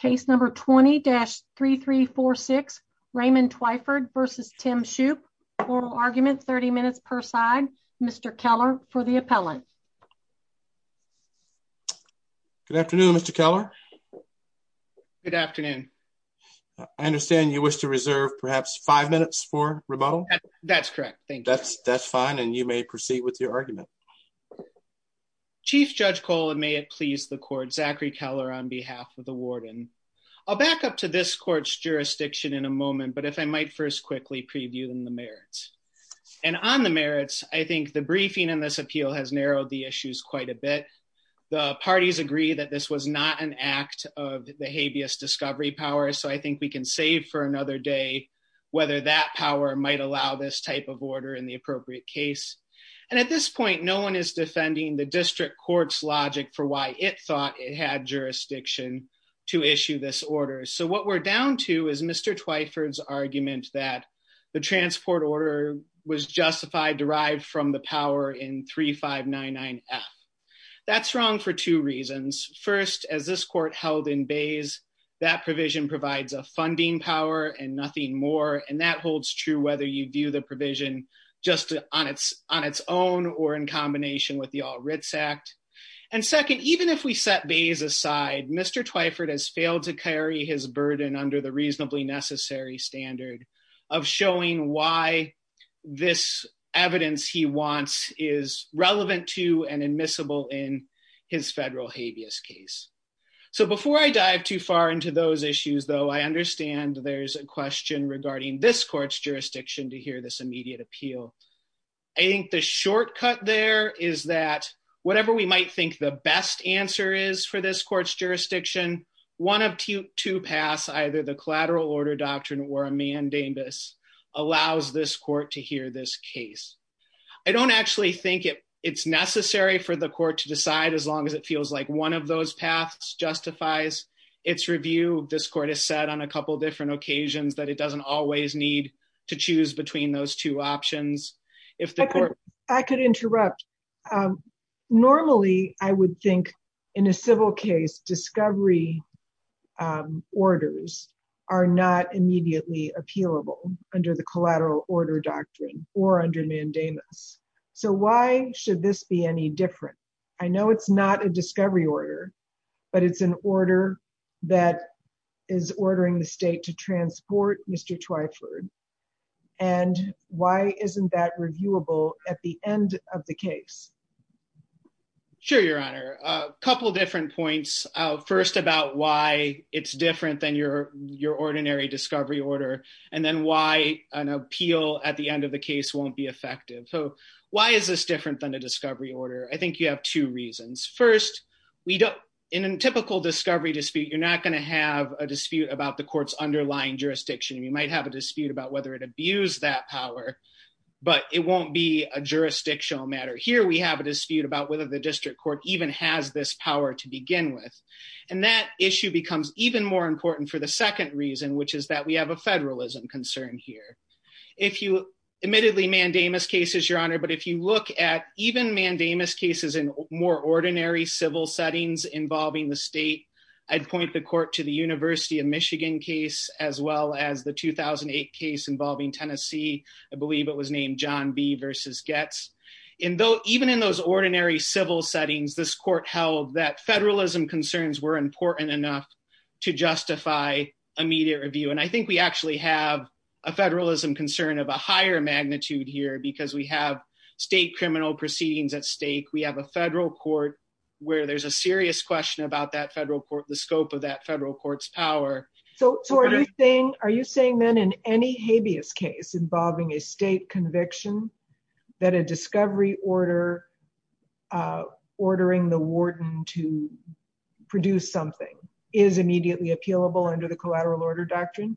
Case number 20-3346 Raymond Twyford v. Tim Shoop. Oral argument 30 minutes per side. Mr. Keller for the appellant. Good afternoon, Mr. Keller. Good afternoon. I understand you wish to reserve perhaps five minutes for rebuttal? That's correct, thank you. That's fine and you may proceed with your argument. Chief Judge Cole and may it please the court, Zachary Keller on behalf of the warden. I'll back up to this court's jurisdiction in a moment, but if I might first quickly preview the merits. And on the merits, I think the briefing in this appeal has narrowed the issues quite a bit. The parties agree that this was not an act of the habeas discovery power, so I think we can save for another day whether that power might allow this type of order in the appropriate case. And at this point, no one is defending the district court's logic for why it thought it had jurisdiction to issue this order. So what we're down to is Mr. Twyford's argument that the transport order was justified derived from the power in 3599F. That's wrong for two reasons. First, as this court held in Bays, that provision provides a funding power and nothing more. And that holds true whether you do the provision just on its own or in combination with the All Writs Act. And second, even if we set Bays aside, Mr. Twyford has failed to carry his burden under the reasonably necessary standard of showing why this evidence he wants is relevant to and admissible in his federal habeas case. So before I dive too far into those issues, though, I understand there's a question regarding this court's jurisdiction to hear this immediate appeal. I think the shortcut there is that whatever we might think the best answer is for this court's jurisdiction, one of two paths, either the collateral order doctrine or a mandamus allows this court to hear this case. I don't actually think it's necessary for the court to decide as long as it feels like one of those paths justifies its review. This court has said on a couple different occasions that it doesn't always need to choose between those two options. I could interrupt. Normally, I would think in a civil case, discovery orders are not immediately appealable under the collateral order doctrine or under mandamus. So why should this be any different? I know it's not a discovery order, but it's an order that is ordering the state to transport Mr. Twyford. And why isn't that reviewable at the end of the case? Sure, Your Honor. A couple different points. First, about why it's different than your ordinary discovery order, and then why an appeal at the end of the case won't be effective. So why is this different than a discovery order? I think you have two reasons. First, in a typical discovery dispute, you're not going to have a dispute about the court's underlying jurisdiction. You might have a dispute about whether it abused that power, but it won't be a jurisdictional matter. Here, we have a dispute about whether the district court even has this power to begin with. And that issue becomes even more important for the second reason, which is that we have a federalism concern here. Admittedly, mandamus cases, Your Honor, but if you look at even mandamus cases in more ordinary civil settings involving the state, I'd point the court to the University of Michigan case, as well as the 2008 case involving Tennessee. I believe it was named John B. v. Goetz. Even in those ordinary civil settings, this court held that federalism concerns were important enough to justify a media review. And I think we actually have a federalism concern of a higher magnitude here because we have state criminal proceedings at stake. We have a federal court where there's a serious question about the scope of that federal court's power. Are you saying then in any habeas case involving a state conviction that a discovery order ordering the warden to produce something is immediately appealable under the collateral order doctrine?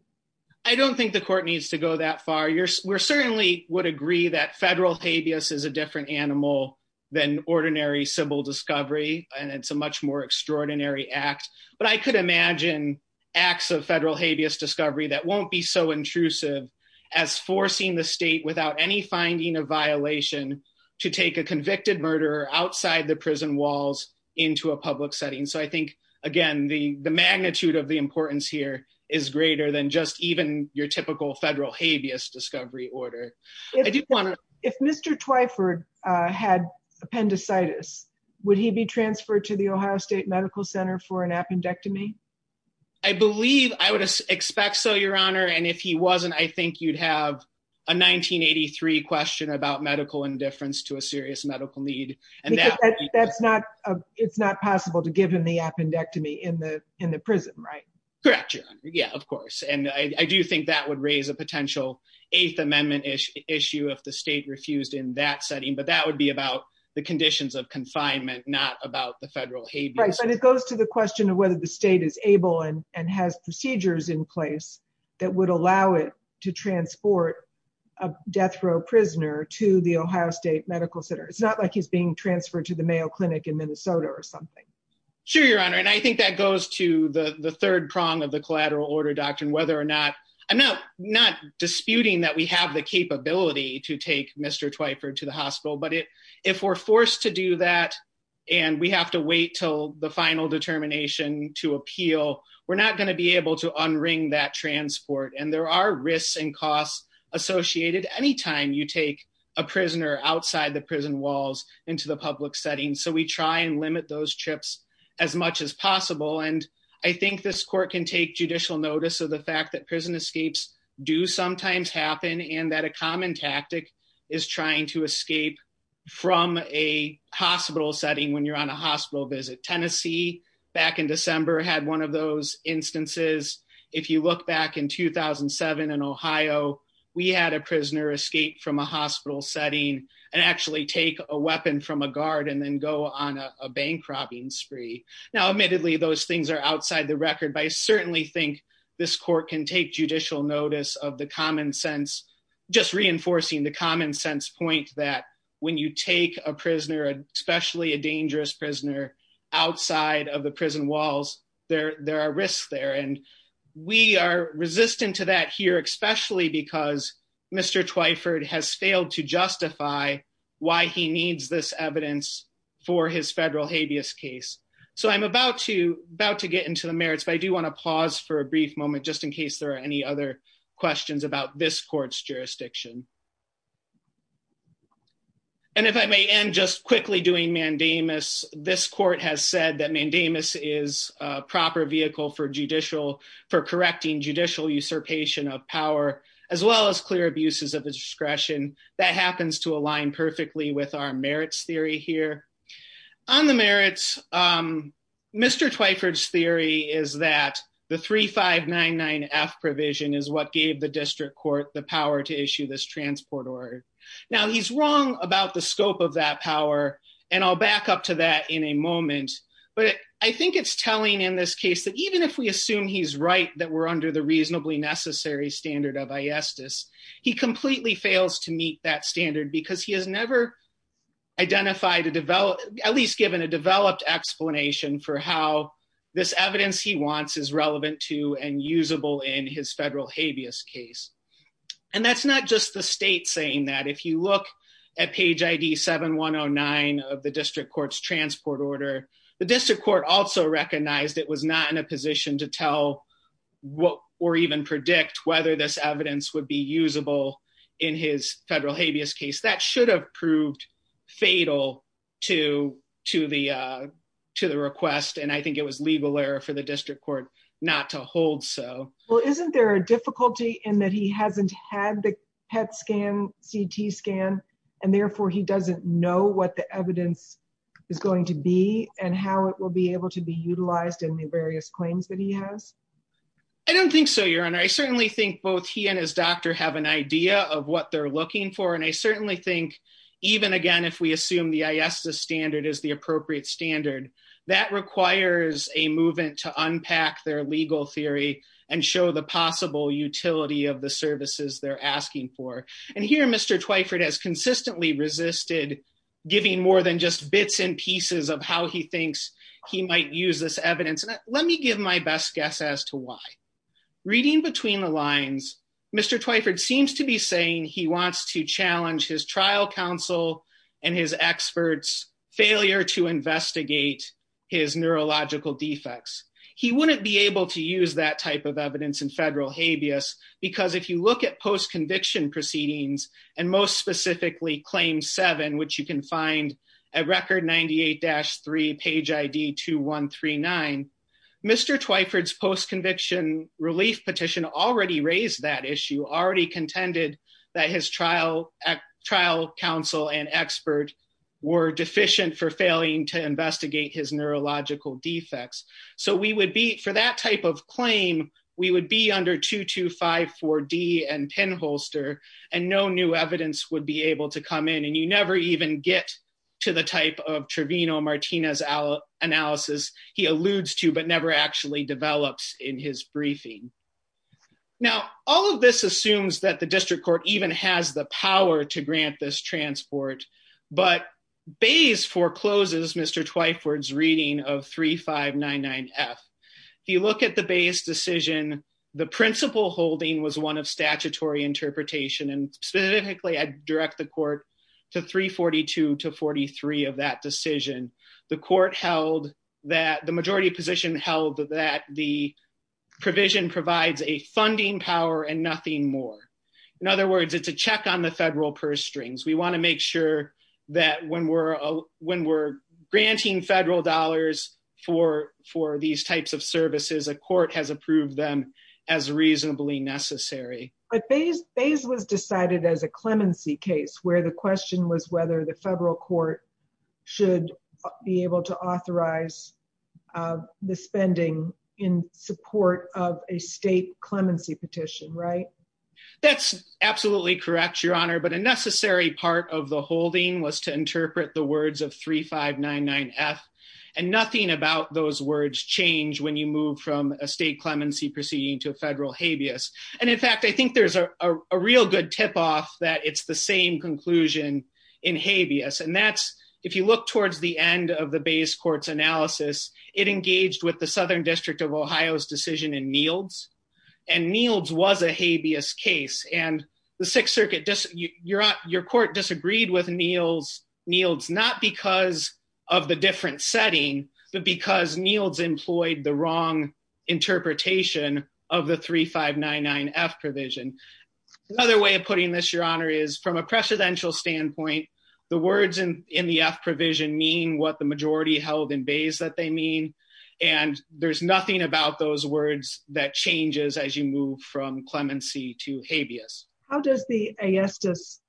I don't think the court needs to go that far. We certainly would agree that federal habeas is a different animal than ordinary civil discovery, and it's a much more extraordinary act. But I could imagine acts of federal habeas discovery that won't be so intrusive as forcing the state, without any finding of violation, to take a convicted murderer outside the prison walls into a public setting. So I think, again, the magnitude of the importance here is greater than just even your typical federal habeas discovery order. If Mr. Twyford had appendicitis, would he be transferred to the Ohio State Medical Center for an appendectomy? I believe I would expect so, Your Honor, and if he wasn't, I think you'd have a 1983 question about medical indifference to a serious medical need. Because it's not possible to give him the appendectomy in the prison, right? Correct, Your Honor. Yeah, of course. And I do think that would raise a potential Eighth Amendment issue if the state refused in that setting. But that would be about the conditions of confinement, not about the federal habeas. Right, but it goes to the question of whether the state is able and has procedures in place that would allow it to transport a death row prisoner to the Ohio State Medical Center. It's not like he's being transferred to the Mayo Clinic in Minnesota or something. Sure, Your Honor, and I think that goes to the third prong of the collateral order doctrine, whether or not I'm not not disputing that we have the capability to take Mr. Twyford to the hospital, but if we're forced to do that, and we have to wait till the final determination to appeal, we're not going to be able to unring that transport. And there are risks and costs associated anytime you take a prisoner outside the prison walls into the public setting. So we try and limit those trips as much as possible. And I think this court can take judicial notice of the fact that prison escapes do sometimes happen and that a common tactic is trying to escape from a hospital setting when you're on a hospital visit. Tennessee, back in December, had one of those instances. If you look back in 2007 in Ohio, we had a prisoner escape from a hospital setting and actually take a weapon from a guard and then go on a bank robbing spree. Now, admittedly, those things are outside the record, but I certainly think this court can take judicial notice of the common sense, just reinforcing the common sense point that when you take a prisoner, especially a dangerous prisoner, outside of the prison walls, there are risks there. And we are resistant to that here, especially because Mr. Twyford has failed to justify why he needs this evidence for his federal habeas case. So I'm about to get into the merits, but I do want to pause for a brief moment, just in case there are any other questions about this court's jurisdiction. And if I may end just quickly doing mandamus, this court has said that mandamus is a proper vehicle for judicial, for correcting judicial usurpation of power, as well as clear abuses of discretion that happens to align perfectly with our merits theory here. On the merits, Mr. Twyford's theory is that the 3599F provision is what gave the district court the power to issue this transport order. Now, he's wrong about the scope of that power, and I'll back up to that in a moment. But I think it's telling in this case that even if we assume he's right, that we're under the reasonably necessary standard of iestis, he completely fails to meet that standard because he has never identified a developed, at least given a developed explanation for how this evidence he wants is relevant to and usable in his federal habeas case. And that's not just the state saying that. If you look at page ID 7109 of the district court's transport order, the district court also recognized it was not in a position to tell or even predict whether this evidence would be usable in his federal habeas case. That should have proved fatal to the request, and I think it was legal error for the district court not to hold so. Well, isn't there a difficulty in that he hasn't had the PET scan, CT scan, and therefore he doesn't know what the evidence is going to be and how it will be able to be utilized in the various claims that he has? I don't think so, Your Honor. I certainly think both he and his doctor have an idea of what they're looking for, and I certainly think, even again, if we assume the iestis standard is the appropriate standard, that requires a movement to unpack their legal theory and show the possible utility of the services they're asking for. And here Mr. Twyford has consistently resisted giving more than just bits and pieces of how he thinks he might use this evidence, and let me give my best guess as to why. Reading between the lines, Mr. Twyford seems to be saying he wants to challenge his trial counsel and his experts' failure to investigate his neurological defects. He wouldn't be able to use that type of evidence in federal habeas, because if you look at post-conviction proceedings, and most specifically Claim 7, which you can find at Record 98-3, Page ID 2139, Mr. Twyford's post-conviction relief petition already raised that issue, already contended that his trial counsel and expert were deficient for failing to investigate his neurological defects. So we would be, for that type of claim, we would be under 2254D and Penholster, and no new evidence would be able to come in, and you never even get to the type of Trevino-Martinez analysis he alludes to, but never actually develops in his briefing. Now, all of this assumes that the district court even has the power to grant this transport, but Bayes forecloses Mr. Twyford's reading of 3599F. If you look at the Bayes decision, the principal holding was one of statutory interpretation, and specifically I direct the court to 342-43 of that decision. The court held that, the majority position held that the provision provides a funding power and nothing more. In other words, it's a check on the federal purse strings. We want to make sure that when we're granting federal dollars for these types of services, a court has approved them as reasonably necessary. But Bayes was decided as a clemency case where the question was whether the federal court should be able to authorize the spending in support of a state clemency petition, right? That's absolutely correct, Your Honor, but a necessary part of the holding was to interpret the words of 3599F, and nothing about those words change when you move from a state clemency proceeding to a federal habeas. And in fact, I think there's a real good tip-off that it's the same conclusion in habeas, and that's, if you look towards the end of the Bayes court's analysis, it engaged with the Southern District of Ohio's decision in Neils. And Neils was a habeas case, and the Sixth Circuit, your court disagreed with Neils, not because of the different setting, but because Neils employed the wrong interpretation of the 3599F provision. Another way of putting this, Your Honor, is from a presidential standpoint, the words in the F provision mean what the majority held in Bayes that they mean, and there's nothing about those words that changes as you move from clemency to habeas. How does the AISTIS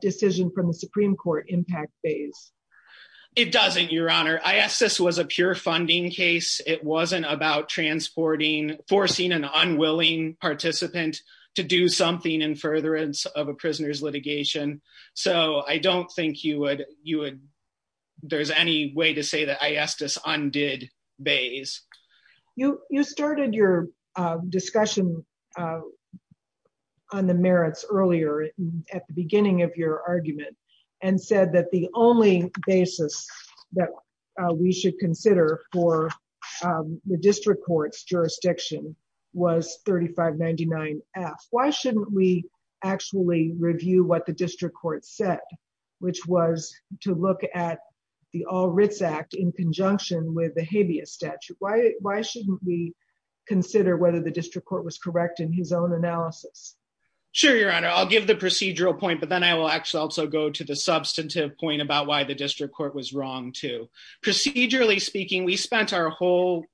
decision from the Supreme Court impact Bayes? It doesn't, Your Honor. AISTIS was a pure funding case. It wasn't about transporting, forcing an unwilling participant to do something in furtherance of a prisoner's litigation. So I don't think you would, there's any way to say that AISTIS undid Bayes. You started your discussion on the merits earlier at the beginning of your argument and said that the only basis that we should consider for the district court's jurisdiction was 3599F. Why shouldn't we actually review what the district court said, which was to look at the All Writs Act in conjunction with the habeas statute? Why shouldn't we consider whether the district court was correct in his own analysis? Sure, Your Honor. I'll give the procedural point, but then I will actually also go to the substantive point about why the district court was wrong, too. Procedurally speaking, we spent our whole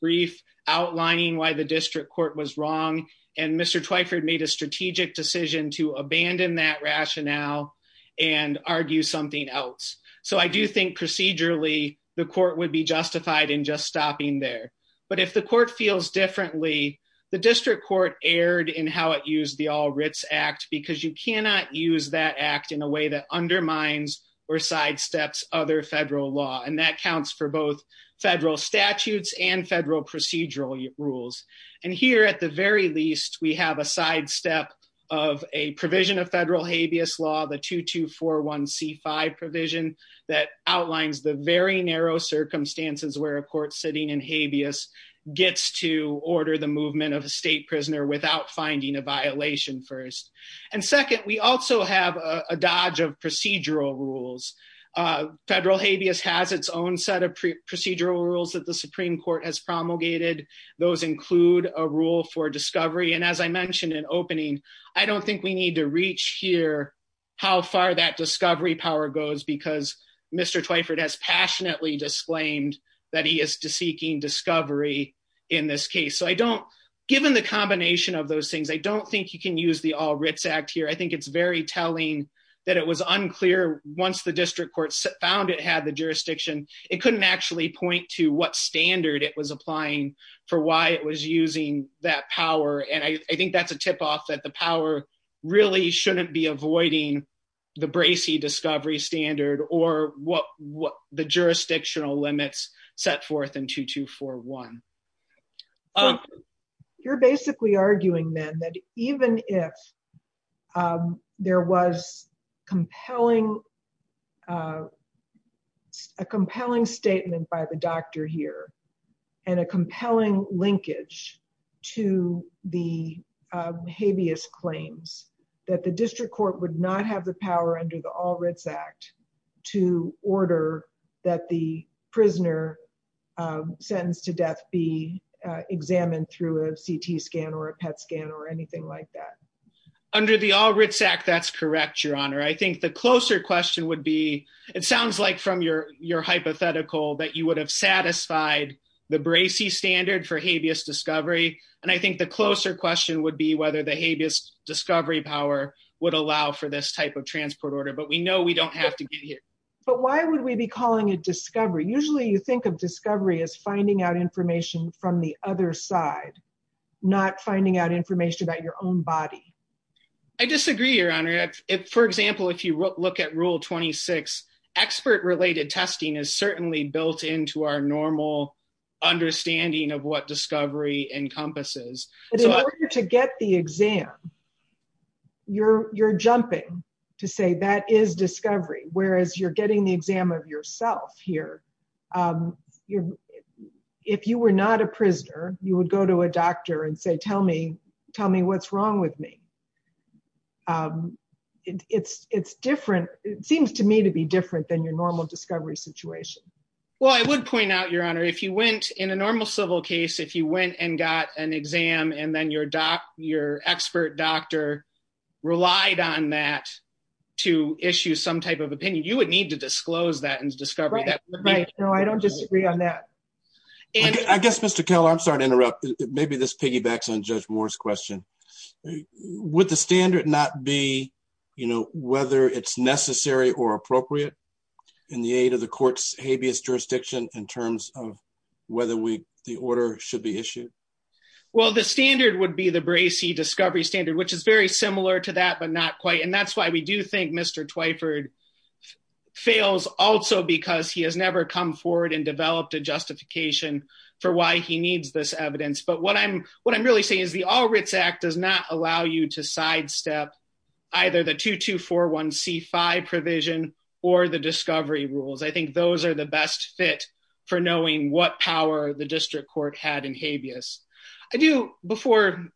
brief outlining why the district court was wrong, and Mr. Twyford made a strategic decision to abandon that rationale and argue something else. So I do think procedurally the court would be justified in just stopping there. But if the court feels differently, the district court erred in how it used the All Writs Act because you cannot use that act in a way that undermines or sidesteps other federal law, and that counts for both federal statutes and federal procedural rules. And here at the very least, we have a sidestep of a provision of federal habeas law, the 2241C5 provision that outlines the very narrow circumstances where a court sitting in habeas gets to order the movement of a state prisoner without finding a violation first. And second, we also have a dodge of procedural rules. Federal habeas has its own set of procedural rules that the Supreme Court has promulgated. Those include a rule for discovery. And as I mentioned in opening, I don't think we need to reach here how far that discovery power goes because Mr. Twyford has passionately disclaimed that he is seeking discovery in this case. Given the combination of those things, I don't think you can use the All Writs Act here. I think it's very telling that it was unclear once the district court found it had the jurisdiction, it couldn't actually point to what standard it was applying for why it was using that power. And I think that's a tip off that the power really shouldn't be avoiding the Bracey discovery standard or what the jurisdictional limits set forth in 2241. You're basically arguing then that even if there was compelling, a compelling statement by the doctor here and a compelling linkage to the habeas claims that the district court would not have the power under the All Writs Act to order that the prisoner sentenced to death be examined through a CT scan or a PET scan or anything like that. Under the All Writs Act, that's correct, Your Honor. I think the closer question would be, it sounds like from your hypothetical that you would have satisfied the Bracey standard for habeas discovery. And I think the closer question would be whether the habeas discovery power would allow for this type of transport order, but we know we don't have to get here. But why would we be calling it discovery? Usually you think of discovery as finding out information from the other side, not finding out information about your own body. I disagree, Your Honor. For example, if you look at Rule 26, expert related testing is certainly built into our normal understanding of what discovery encompasses. But in order to get the exam, you're jumping to say that is discovery, whereas you're getting the exam of yourself here. If you were not a prisoner, you would go to a doctor and say, tell me what's wrong with me. It seems to me to be different than your normal discovery situation. Well, I would point out, Your Honor, if you went in a normal civil case, if you went and got an exam and then your expert doctor relied on that to issue some type of opinion, you would need to disclose that as discovery. I don't disagree on that. I guess, Mr. Keller, I'm sorry to interrupt. Maybe this piggybacks on Judge Moore's question. Would the standard not be, you know, whether it's necessary or appropriate in the aid of the court's habeas jurisdiction in terms of whether the order should be issued? Well, the standard would be the Bracey discovery standard, which is very similar to that, but not quite. And that's why we do think Mr. Twyford fails also because he has never come forward and developed a justification for why he needs this evidence. But what I'm really saying is the All Writs Act does not allow you to sidestep either the 2241C5 provision or the discovery rules. I think those are the best fit for knowing what power the district court had in habeas. Before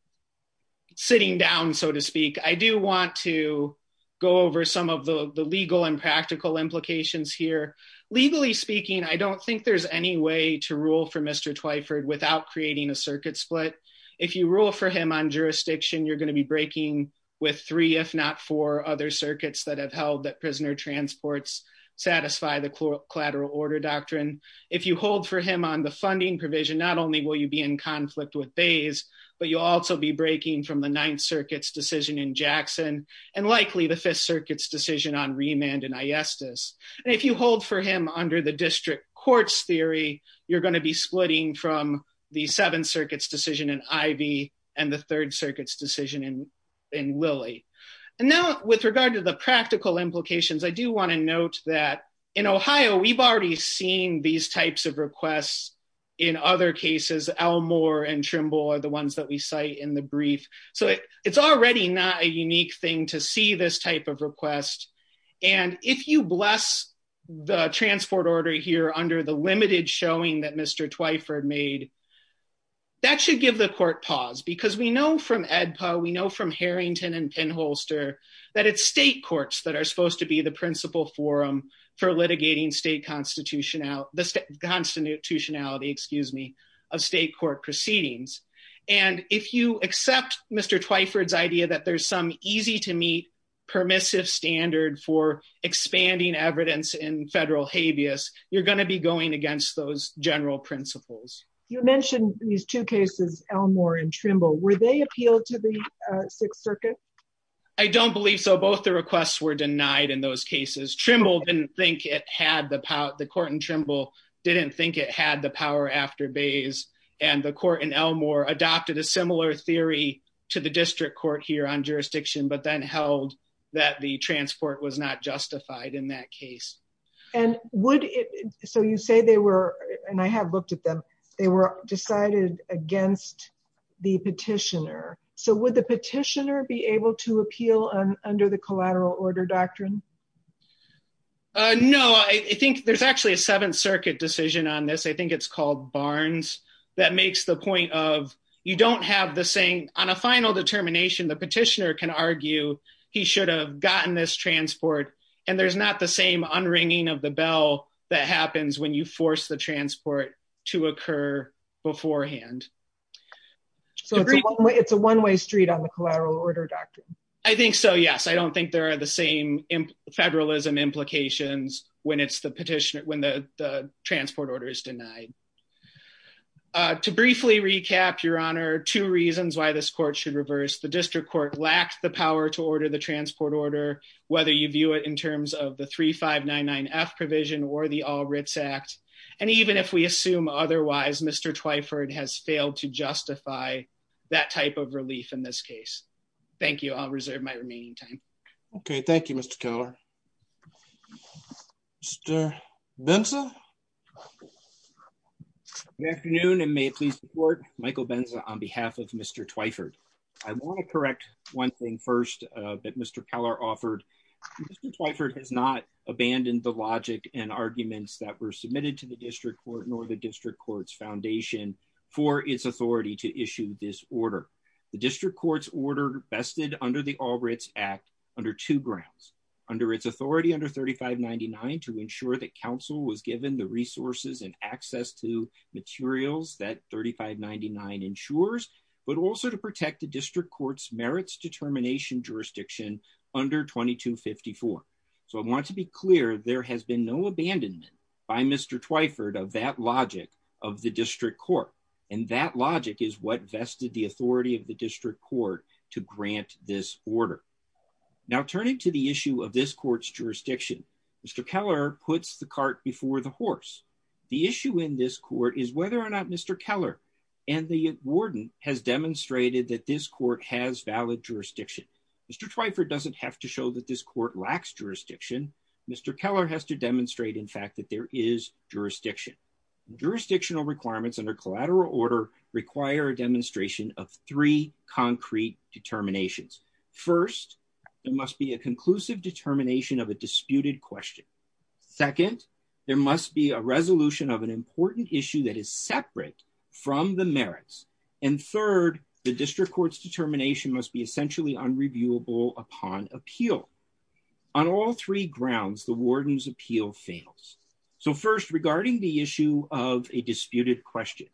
sitting down, so to speak, I do want to go over some of the legal and practical implications here. Legally speaking, I don't think there's any way to rule for Mr. Twyford without creating a circuit split. If you rule for him on jurisdiction, you're going to be breaking with three, if not four, other circuits that have held that prisoner transports satisfy the collateral order doctrine. If you hold for him on the funding provision, not only will you be in conflict with Bays, but you'll also be breaking from the Ninth Circuit's decision in Jackson and likely the Fifth Circuit's decision on remand in Iestis. And if you hold for him under the district court's theory, you're going to be splitting from the Seventh Circuit's decision in Ivy and the Third Circuit's decision in Lilly. And now with regard to the practical implications, I do want to note that in Ohio, we've already seen these types of requests. In other cases, Elmore and Trimble are the ones that we cite in the brief. So it's already not a unique thing to see this type of request. And if you bless the transport order here under the limited showing that Mr. Twyford made, that should give the court pause. Because we know from AEDPA, we know from Harrington and Penholster, that it's state courts that are supposed to be the principal forum for litigating state constitutionality, excuse me, of state court proceedings. And if you accept Mr. Twyford's idea that there's some easy to meet permissive standard for expanding evidence in federal habeas, you're going to be going against those general principles. You mentioned these two cases, Elmore and Trimble. Were they appealed to the Sixth Circuit? I don't believe so. Both the requests were denied in those cases. Trimble didn't think it had the power, the court in Trimble didn't think it had the power after Bays. And the court in Elmore adopted a similar theory to the district court here on jurisdiction, but then held that the transport was not justified in that case. So you say they were, and I have looked at them, they were decided against the petitioner. So would the petitioner be able to appeal under the collateral order doctrine? No, I think there's actually a Seventh Circuit decision on this. I think it's called Barnes. That makes the point of, you don't have the same, on a final determination, the petitioner can argue, he should have gotten this transport, and there's not the same unringing of the bell that happens when you force the transport to occur beforehand. So it's a one way street on the collateral order doctrine. I think so, yes. I don't think there are the same federalism implications when it's the petitioner, when the transport order is denied. To briefly recap, your honor, two reasons why this court should reverse the district court lacked the power to order the transport order, whether you view it in terms of the 3599F provision or the All Writs Act. And even if we assume otherwise, Mr. Twyford has failed to justify that type of relief in this case. Thank you. I'll reserve my remaining time. Okay, thank you, Mr. Keller. Mr. Benson. Good afternoon, and may it please the court, Michael Benza on behalf of Mr. Twyford. I want to correct one thing first that Mr. Keller offered. Mr. Twyford has not abandoned the logic and arguments that were submitted to the district court nor the district court's foundation for its authority to issue this order. The district court's order vested under the All Writs Act under two grounds, under its authority under 3599 to ensure that counsel was given the resources and access to materials that 3599 ensures, but also to protect the district court's merits determination jurisdiction under 2254. So I want to be clear, there has been no abandonment by Mr. Twyford of that logic of the district court, and that logic is what vested the authority of the district court to grant this order. Now turning to the issue of this court's jurisdiction, Mr. Keller puts the cart before the horse. The issue in this court is whether or not Mr. Keller and the warden has demonstrated that this court has valid jurisdiction. Mr. Twyford doesn't have to show that this court lacks jurisdiction. Mr. Keller has to demonstrate in fact that there is jurisdiction. Jurisdictional requirements under collateral order require a demonstration of three concrete determinations. First, there must be a conclusive determination of a disputed question. Second, there must be a resolution of an important issue that is separate from the merits. And third, the district court's determination must be essentially unreviewable upon appeal. On all three grounds, the warden's appeal fails. So first, regarding the issue of a disputed question,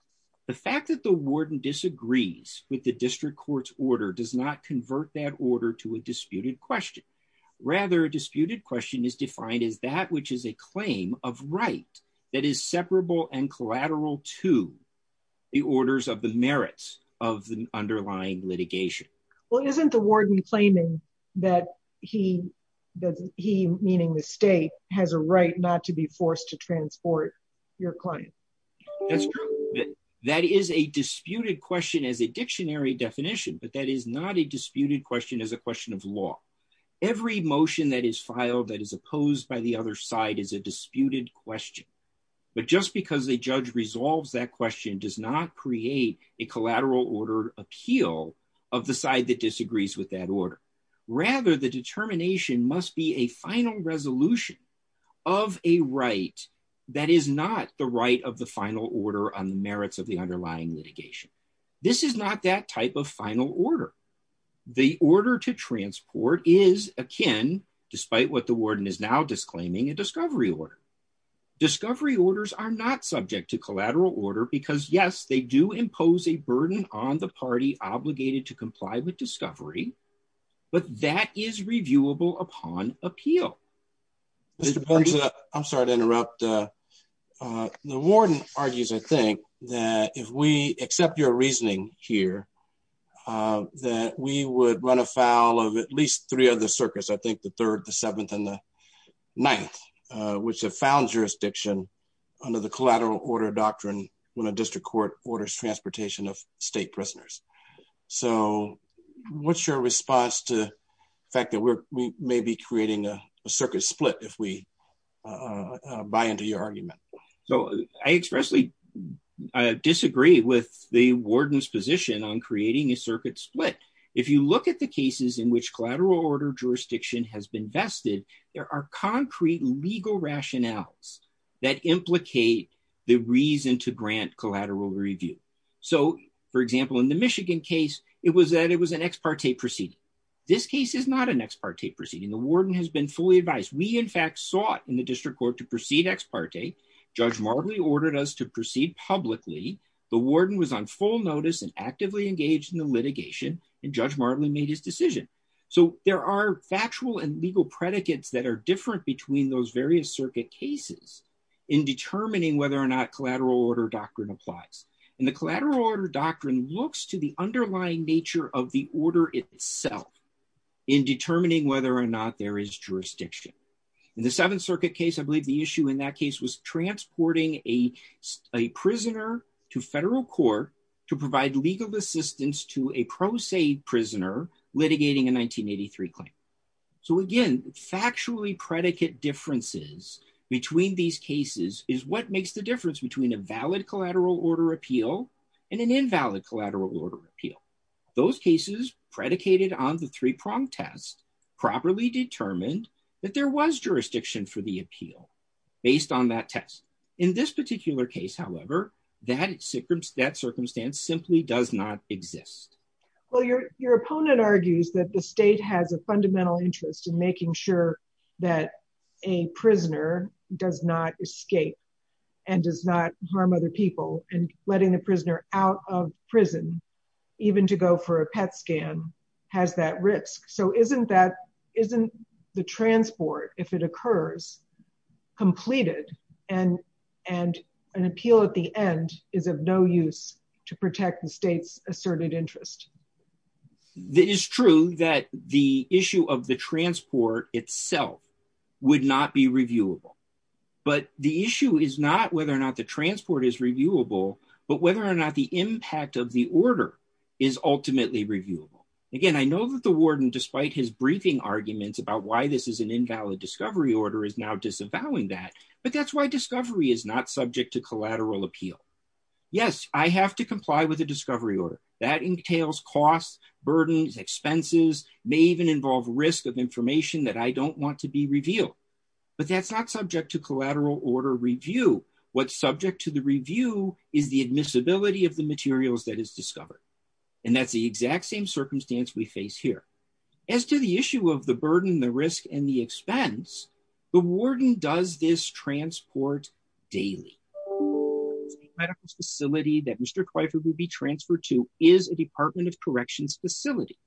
the fact that the warden disagrees with the district court's order does not convert that order to a disputed question. Rather, a disputed question is defined as that which is a claim of right that is separable and collateral to the orders of the merits of the underlying litigation. Well, isn't the warden claiming that he, meaning the state, has a right not to be forced to transport your client? That's true. That is a disputed question as a dictionary definition, but that is not a disputed question as a question of law. Every motion that is filed that is opposed by the other side is a disputed question. But just because a judge resolves that question does not create a collateral order appeal of the side that disagrees with that order. Rather, the determination must be a final resolution of a right that is not the right of the final order on the merits of the underlying litigation. This is not that type of final order. The order to transport is akin, despite what the warden is now disclaiming, a discovery order. Discovery orders are not subject to collateral order because, yes, they do impose a burden on the party obligated to comply with discovery, but that is reviewable upon appeal. I'm sorry to interrupt. The warden argues, I think, that if we accept your reasoning here, that we would run afoul of at least three other circuits, I think the third, the seventh, and the ninth, which have found jurisdiction under the collateral order doctrine when a district court orders transportation of state prisoners. So what's your response to the fact that we may be creating a circuit split if we buy into your argument? So I expressly disagree with the warden's position on creating a circuit split. If you look at the cases in which collateral order jurisdiction has been vested, there are concrete legal rationales that implicate the reason to grant collateral review. So, for example, in the Michigan case, it was that it was an ex parte proceeding. This case is not an ex parte proceeding. The warden has been fully advised. We, in fact, sought in the district court to proceed ex parte. Judge Marley ordered us to proceed publicly. The warden was on full notice and actively engaged in the litigation, and Judge Marley made his decision. So there are factual and legal predicates that are different between those various circuit cases in determining whether or not collateral order doctrine applies. And the collateral order doctrine looks to the underlying nature of the order itself in determining whether or not there is jurisdiction. In the Seventh Circuit case, I believe the issue in that case was transporting a prisoner to federal court to provide legal assistance to a pro se prisoner litigating a 1983 claim. So, again, factually predicate differences between these cases is what makes the difference between a valid collateral order appeal and an invalid collateral order appeal. Those cases predicated on the three-pronged test properly determined that there was jurisdiction for the appeal based on that test. In this particular case, however, that circumstance simply does not exist. Well, your opponent argues that the state has a fundamental interest in making sure that a prisoner does not escape and does not harm other people, and letting a prisoner out of prison, even to go for a PET scan, has that risk. So isn't that, isn't the transport, if it occurs, completed and an appeal at the end is of no use to protect the state's asserted interest? It is true that the issue of the transport itself would not be reviewable. But the issue is not whether or not the transport is reviewable, but whether or not the impact of the order is ultimately reviewable. Again, I know that the warden, despite his briefing arguments about why this is an invalid discovery order, is now disavowing that. But that's why discovery is not subject to collateral appeal. Yes, I have to comply with a discovery order. That entails costs, burdens, expenses, may even involve risk of information that I don't want to be revealed. But that's not subject to collateral order review. What's subject to the review is the admissibility of the materials that is discovered. And that's the exact same circumstance we face here. As to the issue of the burden, the risk, and the expense, the warden does this transport daily. The medical facility that Mr. Kweifer would be transferred to is a Department of Corrections facility.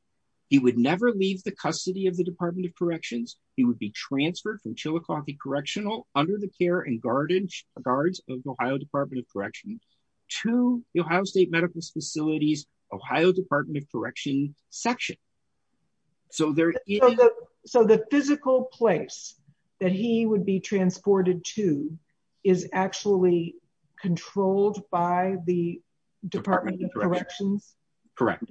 He would never leave the custody of the Department of Corrections. He would be transferred from Chillicothe Correctional, under the care and guards of the Ohio Department of Corrections, to the Ohio State Medical Facility's Ohio Department of Corrections section. So the physical place that he would be transported to is actually controlled by the Department of Corrections? Correct.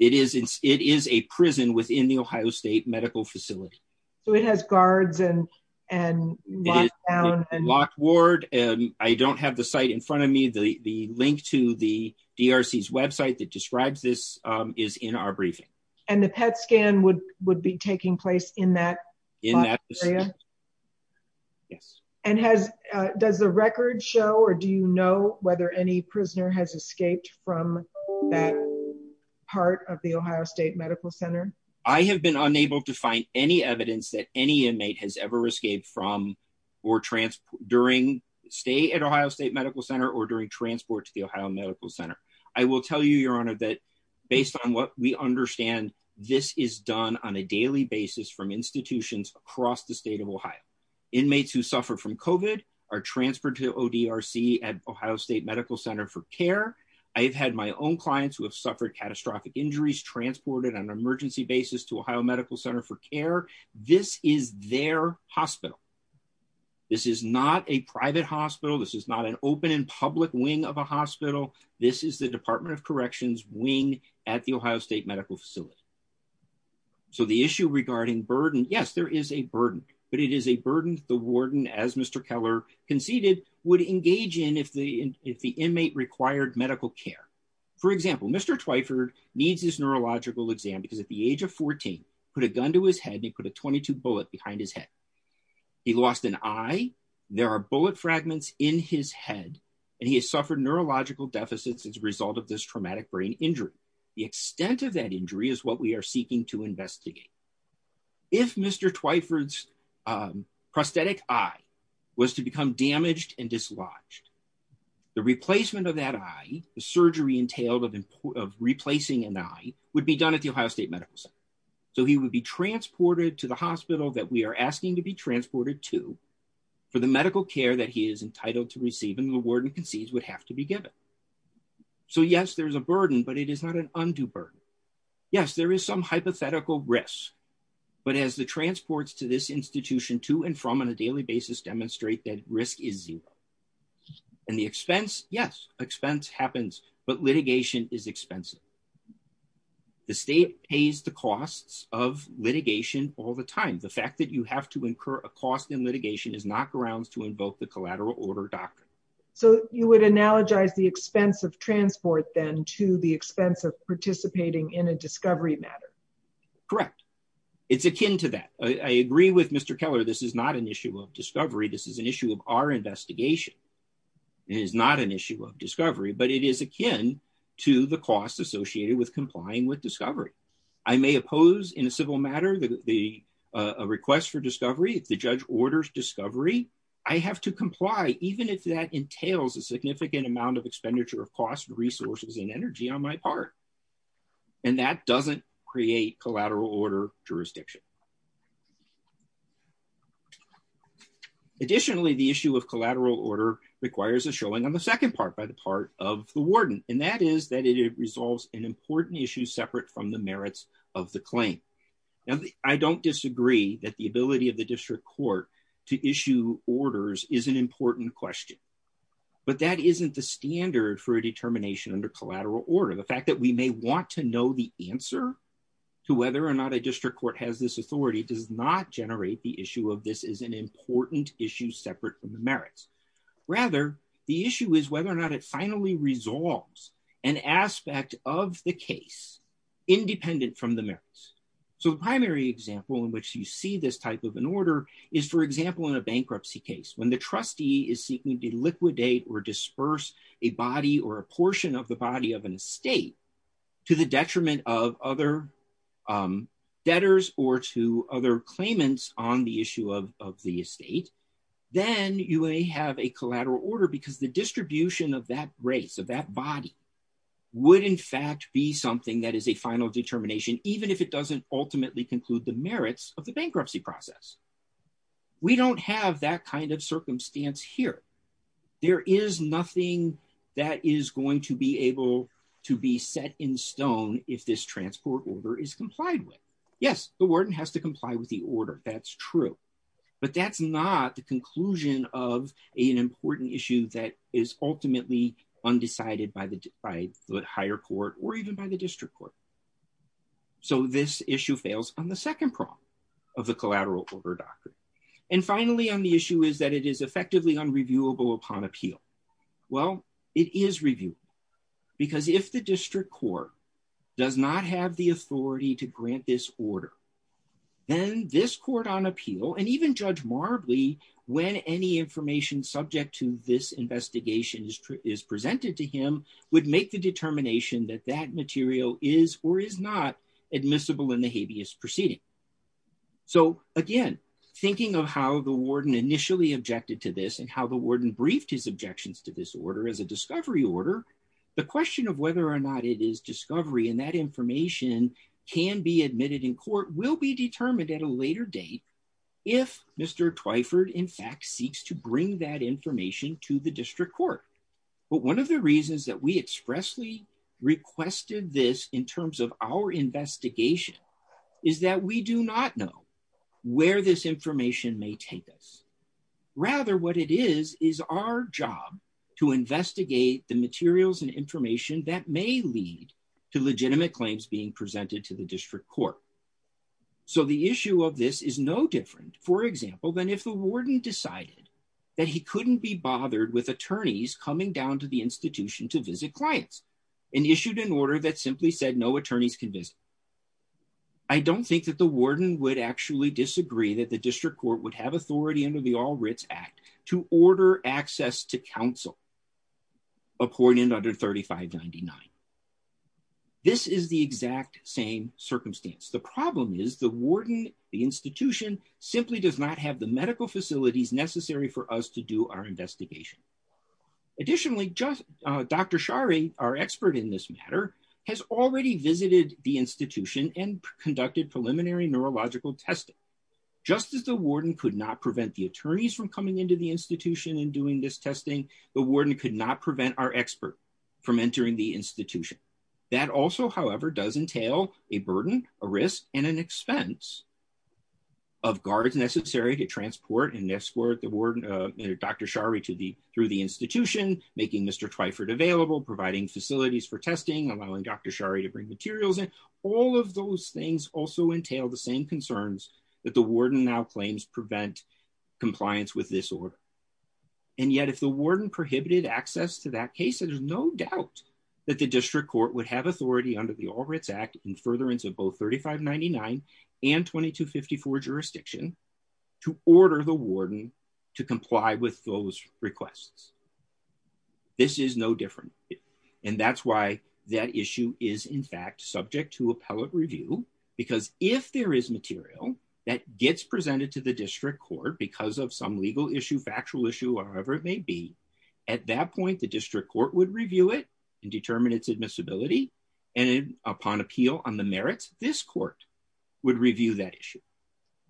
It is a prison within the Ohio State Medical Facility. So it has guards and lockdown? Locked ward. I don't have the site in front of me. The link to the DRC's website that describes this is in our briefing. And the PET scan would be taking place in that area? Yes. And does the record show or do you know whether any prisoner has escaped from that part of the Ohio State Medical Center? I have been unable to find any evidence that any inmate has ever escaped from or during stay at Ohio State Medical Center or during transport to the Ohio Medical Center. I will tell you, Your Honor, that based on what we understand, this is done on a daily basis from institutions across the state of Ohio. Inmates who suffer from COVID are transferred to ODRC at Ohio State Medical Center for care. I've had my own clients who have suffered catastrophic injuries transported on an emergency basis to Ohio Medical Center for care. This is their hospital. This is not a private hospital. This is not an open and public wing of a hospital. This is the Department of Corrections wing at the Ohio State Medical Facility. So the issue regarding burden, yes, there is a burden, but it is a burden the warden, as Mr. Keller conceded, would engage in if the inmate required medical care. For example, Mr. Twyford needs his neurological exam because at the age of 14, he put a gun to his head and he put a .22 bullet behind his head. He lost an eye. There are bullet fragments in his head. And he has suffered neurological deficits as a result of this traumatic brain injury. The extent of that injury is what we are seeking to investigate. If Mr. Twyford's prosthetic eye was to become damaged and dislodged, the replacement of that eye, the surgery entailed of replacing an eye, would be done at the Ohio State Medical Center. So he would be transported to the hospital that we are asking to be transported to for the medical care that he is entitled to receive and the warden concedes would have to be given. So yes, there is a burden, but it is not an undue burden. Yes, there is some hypothetical risk, but as the transports to this institution to and from on a daily basis demonstrate that risk is zero. And the expense, yes, expense happens, but litigation is expensive. The state pays the costs of litigation all the time. The fact that you have to incur a cost in litigation is not grounds to invoke the collateral order doctrine. So you would analogize the expense of transport then to the expense of participating in a discovery matter. Correct. It's akin to that. I agree with Mr. Keller. This is not an issue of discovery. This is an issue of our investigation. It is not an issue of discovery, but it is akin to the costs associated with complying with discovery. I may oppose in a civil matter the request for discovery. If the judge orders discovery, I have to comply, even if that entails a significant amount of expenditure of cost, resources, and energy on my part. And that doesn't create collateral order jurisdiction. Additionally, the issue of collateral order requires a showing on the second part by the part of the warden, and that is that it resolves an important issue separate from the merits of the claim. Now, I don't disagree that the ability of the district court to issue orders is an important question. But that isn't the standard for a determination under collateral order. The fact that we may want to know the answer to whether or not a district court has this authority does not generate the issue of this is an important issue separate from the merits. Rather, the issue is whether or not it finally resolves an aspect of the case independent from the merits. So the primary example in which you see this type of an order is, for example, in a bankruptcy case. When the trustee is seeking to liquidate or disperse a body or a portion of the body of an estate to the detriment of other debtors or to other claimants on the issue of the estate, then you may have a collateral order because the distribution of that race of that body would in fact be something that is a final determination, even if it doesn't ultimately conclude the merits of the bankruptcy process. We don't have that kind of circumstance here. There is nothing that is going to be able to be set in stone if this transport order is complied with. Yes, the warden has to comply with the order. That's true. But that's not the conclusion of an important issue that is ultimately undecided by the higher court or even by the district court. So this issue fails on the second prong of the collateral order doctrine. And finally, on the issue is that it is effectively unreviewable upon appeal. Well, it is reviewable because if the district court does not have the authority to grant this order, then this court on appeal and even Judge Marbley, when any information subject to this investigation is presented to him, would make the determination that that material is or is not admissible in the habeas proceeding. So again, thinking of how the warden initially objected to this and how the warden briefed his objections to this order as a discovery order, the question of whether or not it is discovery and that information can be admitted in court will be determined at a later date. If Mr. Twyford in fact seeks to bring that information to the district court. But one of the reasons that we expressly requested this in terms of our investigation is that we do not know where this information may take us. Rather, what it is, is our job to investigate the materials and information that may lead to legitimate claims being presented to the district court. So the issue of this is no different, for example, than if the warden decided that he couldn't be bothered with attorneys coming down to the institution to visit clients and issued an order that simply said no attorneys can visit. I don't think that the warden would actually disagree that the district court would have authority under the All Writs Act to order access to counsel appointed under 3599. This is the exact same circumstance. The problem is the warden, the institution, simply does not have the medical facilities necessary for us to do our investigation. Additionally, Dr. Shari, our expert in this matter, has already visited the institution and conducted preliminary neurological testing. Just as the warden could not prevent the attorneys from coming into the institution and doing this testing, the warden could not prevent our expert from entering the institution. That also, however, does entail a burden, a risk, and an expense of guards necessary to transport and escort Dr. Shari through the institution, making Mr. Twyford available, providing facilities for testing, allowing Dr. Shari to bring materials in. All of those things also entail the same concerns that the warden now claims prevent compliance with this order. And yet if the warden prohibited access to that case, there's no doubt that the district court would have authority under the All Writs Act in furtherance of both 3599 and 2254 jurisdiction to order the warden to comply with those requests. This is no different. And that's why that issue is in fact subject to appellate review, because if there is material that gets presented to the district court because of some legal issue, factual issue, or whatever it may be, at that point, the district court would review it and determine its admissibility. And upon appeal on the merits, this court would review that issue.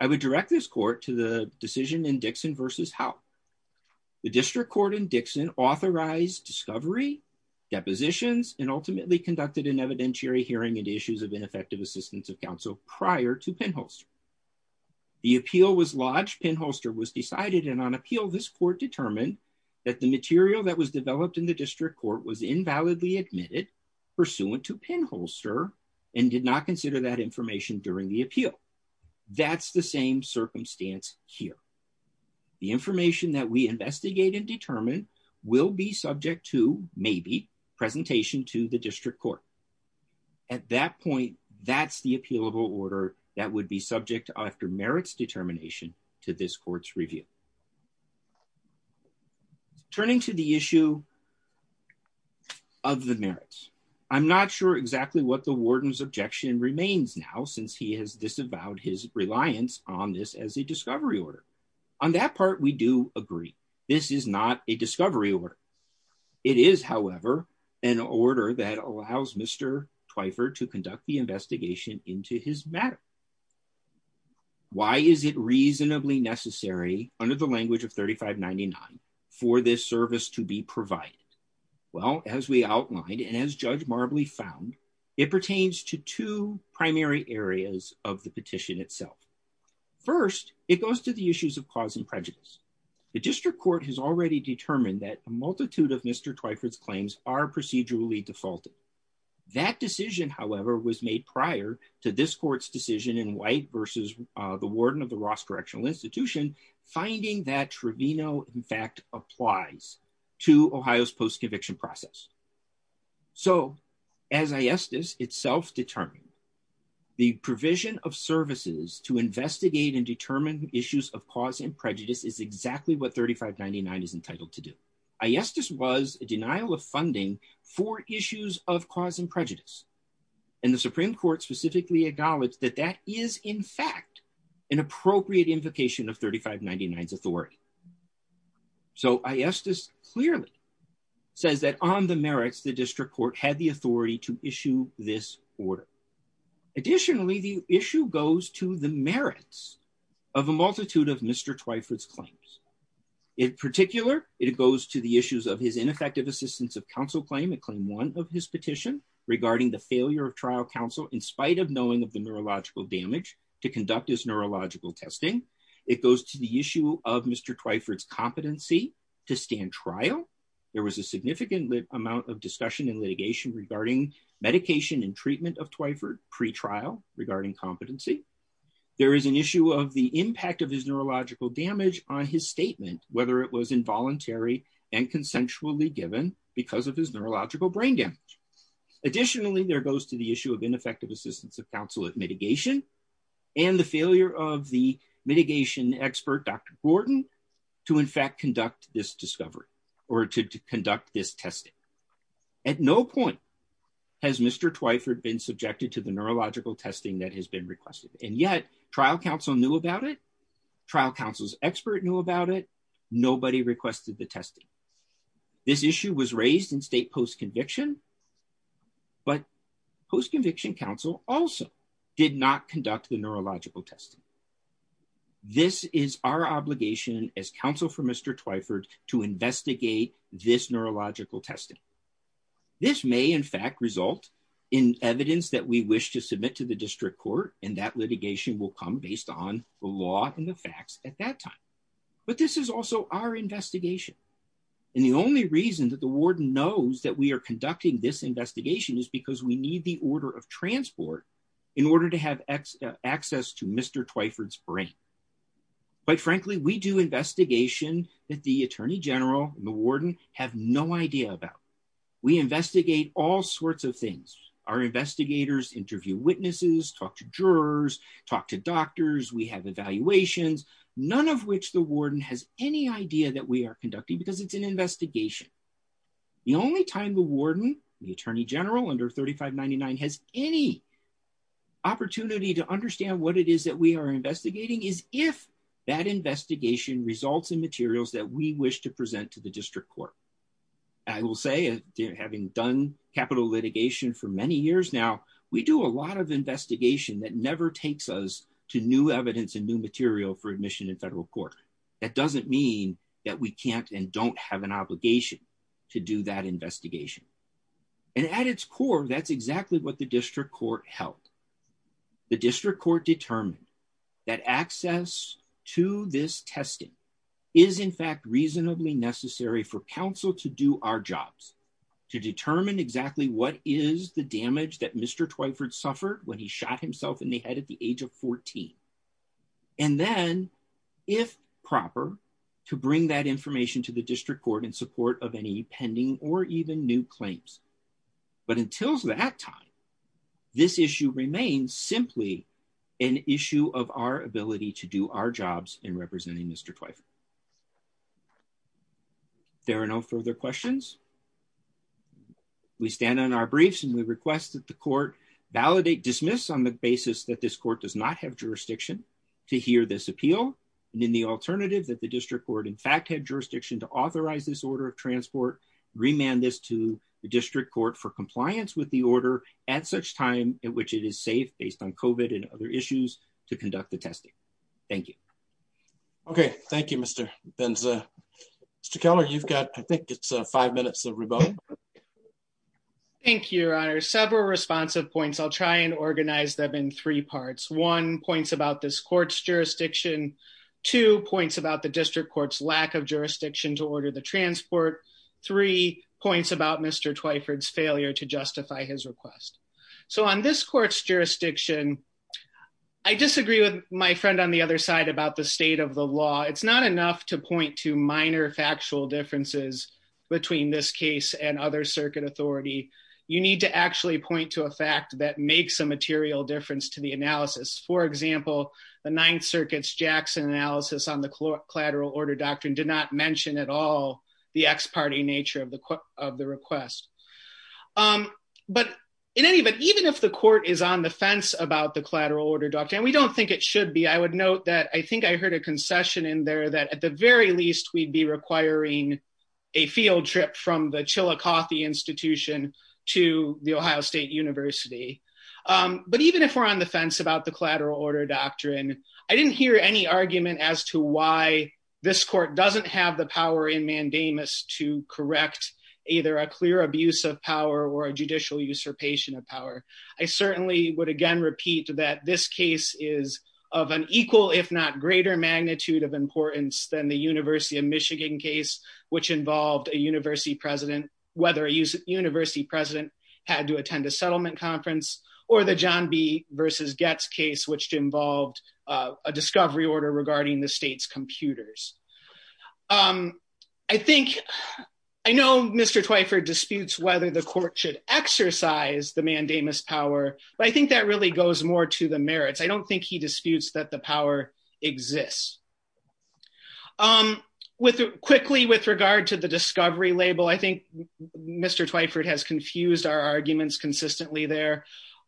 I would direct this court to the decision in Dixon v. Howe. The district court in Dixon authorized discovery, depositions, and ultimately conducted an evidentiary hearing and issues of ineffective assistance of counsel prior to Penholster. The appeal was lodged. Penholster was decided, and on appeal, this court determined that the material that was developed in the district court was invalidly admitted pursuant to Penholster and did not consider that information during the appeal. That's the same circumstance here. The information that we investigate and determine will be subject to, maybe, presentation to the district court. At that point, that's the appealable order that would be subject after merits determination to this court's review. Turning to the issue of the merits, I'm not sure exactly what the warden's objection remains now, since he has disavowed his reliance on this as a discovery order. On that part, we do agree. This is not a discovery order. It is, however, an order that allows Mr. Twyford to conduct the investigation into his matter. Why is it reasonably necessary, under the language of 3599, for this service to be provided? Well, as we outlined and as Judge Marbley found, it pertains to two primary areas of the petition itself. First, it goes to the issues of cause and prejudice. The district court has already determined that a multitude of Mr. Twyford's claims are procedurally defaulted. That decision, however, was made prior to this court's decision in White v. the warden of the Ross Correctional Institution, finding that Trevino, in fact, applies to Ohio's post-conviction process. So, as ISTIS itself determined, the provision of services to investigate and determine issues of cause and prejudice is exactly what 3599 is entitled to do. ISTIS was a denial of funding for issues of cause and prejudice, and the Supreme Court specifically acknowledged that that is, in fact, an appropriate invocation of 3599's authority. So, ISTIS clearly says that on the merits, the district court had the authority to issue this order. Additionally, the issue goes to the merits of a multitude of Mr. Twyford's claims. In particular, it goes to the issues of his ineffective assistance of counsel claim, claim one of his petition regarding the failure of trial counsel in spite of knowing of the neurological damage to conduct his neurological testing. It goes to the issue of Mr. Twyford's competency to stand trial. There was a significant amount of discussion and litigation regarding medication and treatment of Twyford pre-trial regarding competency. There is an issue of the impact of his neurological damage on his statement, whether it was involuntary and consensually given because of his neurological brain damage. Additionally, there goes to the issue of ineffective assistance of counsel at mitigation and the failure of the mitigation expert, Dr. Gordon, to, in fact, conduct this discovery or to conduct this testing. At no point has Mr. Twyford been subjected to the neurological testing that has been requested. And yet, trial counsel knew about it. Trial counsel's expert knew about it. Nobody requested the testing. This issue was raised in state post-conviction, but post-conviction counsel also did not conduct the neurological testing. This is our obligation as counsel for Mr. Twyford to investigate this neurological testing. This may, in fact, result in evidence that we wish to submit to the district court, and that litigation will come based on the law and the facts at that time. But this is also our investigation. And the only reason that the warden knows that we are conducting this investigation is because we need the order of transport in order to have access to Mr. Twyford's brain. Quite frankly, we do investigation that the attorney general and the warden have no idea about. We investigate all sorts of things. Our investigators interview witnesses, talk to jurors, talk to doctors. We have evaluations, none of which the warden has any idea that we are conducting because it's an investigation. The only time the warden, the attorney general under 3599, has any opportunity to understand what it is that we are investigating is if that investigation results in materials that we wish to present to the district court. I will say, having done capital litigation for many years now, we do a lot of investigation that never takes us to new evidence and new material for admission in federal court. That doesn't mean that we can't and don't have an obligation to do that investigation. And at its core, that's exactly what the district court held. The district court determined that access to this testing is in fact reasonably necessary for counsel to do our jobs. To determine exactly what is the damage that Mr. Twyford suffered when he shot himself in the head at the age of 14. And then, if proper, to bring that information to the district court in support of any pending or even new claims. But until that time, this issue remains simply an issue of our ability to do our jobs in representing Mr. Twyford. There are no further questions. We stand on our briefs and we request that the court validate dismiss on the basis that this court does not have jurisdiction to hear this appeal. And in the alternative that the district court in fact had jurisdiction to authorize this order of transport. Remand this to the district court for compliance with the order at such time in which it is safe based on COVID and other issues to conduct the testing. Thank you. Okay. Thank you, Mr. Benza. Mr. Keller, you've got, I think it's five minutes of rebuttal. Thank you, Your Honor. Several responsive points. I'll try and organize them in three parts. One, points about this court's jurisdiction. Two, points about the district court's lack of jurisdiction to order the transport. Three, points about Mr. Twyford's failure to justify his request. So on this court's jurisdiction, I disagree with my friend on the other side about the state of the law. It's not enough to point to minor factual differences between this case and other circuit authority. You need to actually point to a fact that makes a material difference to the analysis. For example, the Ninth Circuit's Jackson analysis on the collateral order doctrine did not mention at all the ex-party nature of the request. But in any event, even if the court is on the fence about the collateral order doctrine, and we don't think it should be, I would note that I think I heard a concession in there that at the very least we'd be requiring a field trip from the Chillicothe Institution to the Ohio State University. But even if we're on the fence about the collateral order doctrine, I didn't hear any argument as to why this court doesn't have the power in mandamus to correct either a clear abuse of power or a judicial usurpation of power. I certainly would again repeat that this case is of an equal, if not greater magnitude of importance than the University of Michigan case, which involved a university president, whether a university president had to attend a settlement conference, or the John B. v. Goetz case, which involved a discovery order regarding the state's computers. I know Mr. Twyford disputes whether the court should exercise the mandamus power, but I think that really goes more to the merits. I don't think he disputes that the power exists. Quickly, with regard to the discovery label, I think Mr. Twyford has confused our arguments consistently there.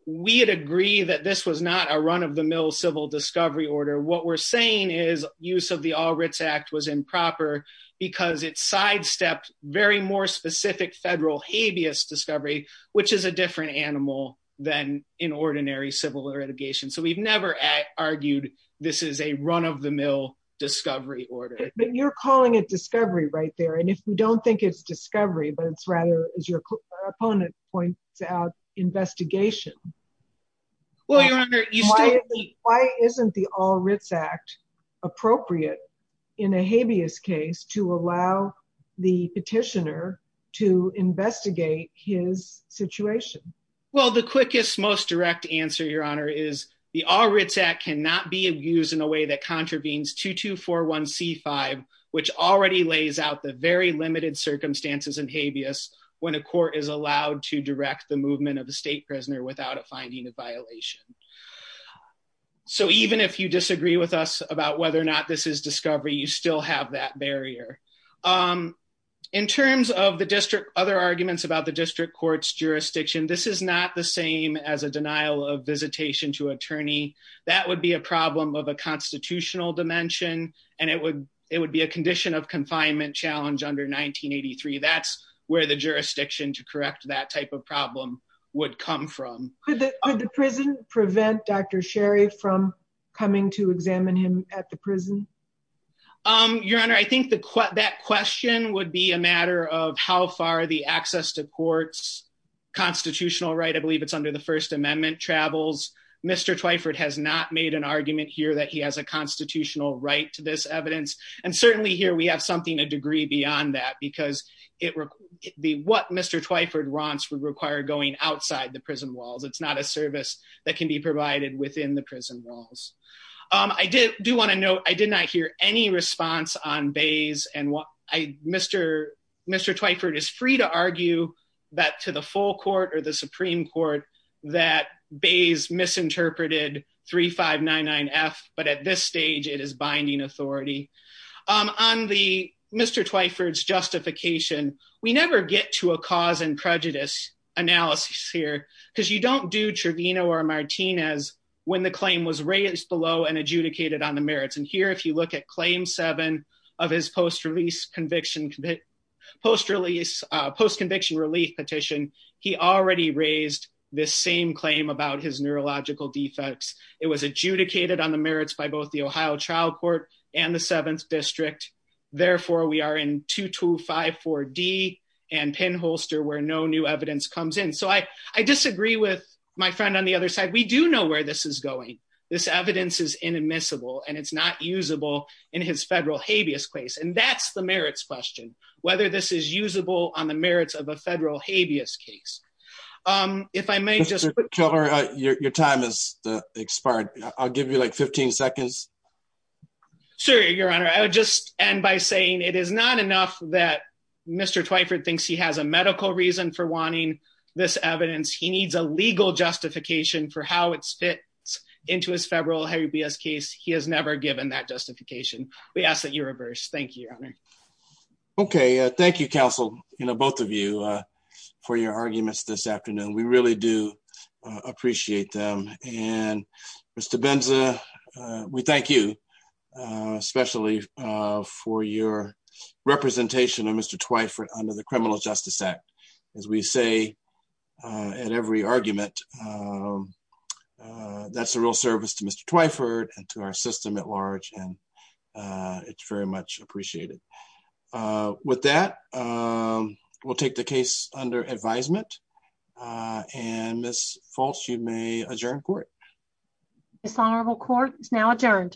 We'd agree that this was not a run-of-the-mill civil discovery order. What we're saying is use of the All Writs Act was improper because it sidestepped very more specific federal habeas discovery, which is a different animal than in ordinary civil litigation. So we've never argued this is a run-of-the-mill discovery order. But you're calling it discovery right there, and if we don't think it's discovery, but it's rather, as your opponent points out, investigation. Why isn't the All Writs Act appropriate in a habeas case to allow the petitioner to investigate his situation? Well, the quickest, most direct answer, Your Honor, is the All Writs Act cannot be used in a way that contravenes 2241c5, which already lays out the very limited circumstances in habeas when a court is allowed to direct the movement of a state prisoner without a finding of violation. So even if you disagree with us about whether or not this is discovery, you still have that barrier. In terms of other arguments about the district court's jurisdiction, this is not the same as a denial of visitation to attorney. That would be a problem of a constitutional dimension, and it would be a condition of confinement challenge under 1983. That's where the jurisdiction to correct that type of problem would come from. Could the prison prevent Dr. Sherry from coming to examine him at the prison? Your Honor, I think that question would be a matter of how far the access to court's constitutional right, I believe it's under the First Amendment, travels. Mr. Twyford has not made an argument here that he has a constitutional right to this evidence. And certainly here we have something a degree beyond that, because what Mr. Twyford wants would require going outside the prison walls. It's not a service that can be provided within the prison walls. I do want to note, I did not hear any response on Bays. Mr. Twyford is free to argue that to the full court or the Supreme Court that Bays misinterpreted 3599F, but at this stage it is binding authority. On Mr. Twyford's justification, we never get to a cause and prejudice analysis here, because you don't do Trevino or Martinez when the claim was raised below and adjudicated on the merits. And here if you look at Claim 7 of his post-release conviction, post-release, post-conviction relief petition, he already raised this same claim about his neurological defects. It was adjudicated on the merits by both the Ohio Trial Court and the 7th District. Therefore, we are in 2254D and Penholster where no new evidence comes in. So I disagree with my friend on the other side. We do know where this is going. This evidence is inadmissible and it's not usable in his federal habeas case. And that's the merits question, whether this is usable on the merits of a federal habeas case. If I may just... Your time has expired. I'll give you like 15 seconds. Sir, Your Honor, I would just end by saying it is not enough that Mr. Twyford thinks he has a medical reason for wanting this evidence. He needs a legal justification for how it fits into his federal habeas case. He has never given that justification. We ask that you reverse. Thank you, Your Honor. Okay. Thank you, counsel, both of you for your arguments this afternoon. We really do appreciate them. And Mr. Benza, we thank you, especially for your representation of Mr. Twyford under the Criminal Justice Act. As we say at every argument, that's a real service to Mr. Twyford and to our system at large. And it's very much appreciated. With that, we'll take the case under advisement. And Ms. Falsch, you may adjourn court. Dishonorable court is now adjourned.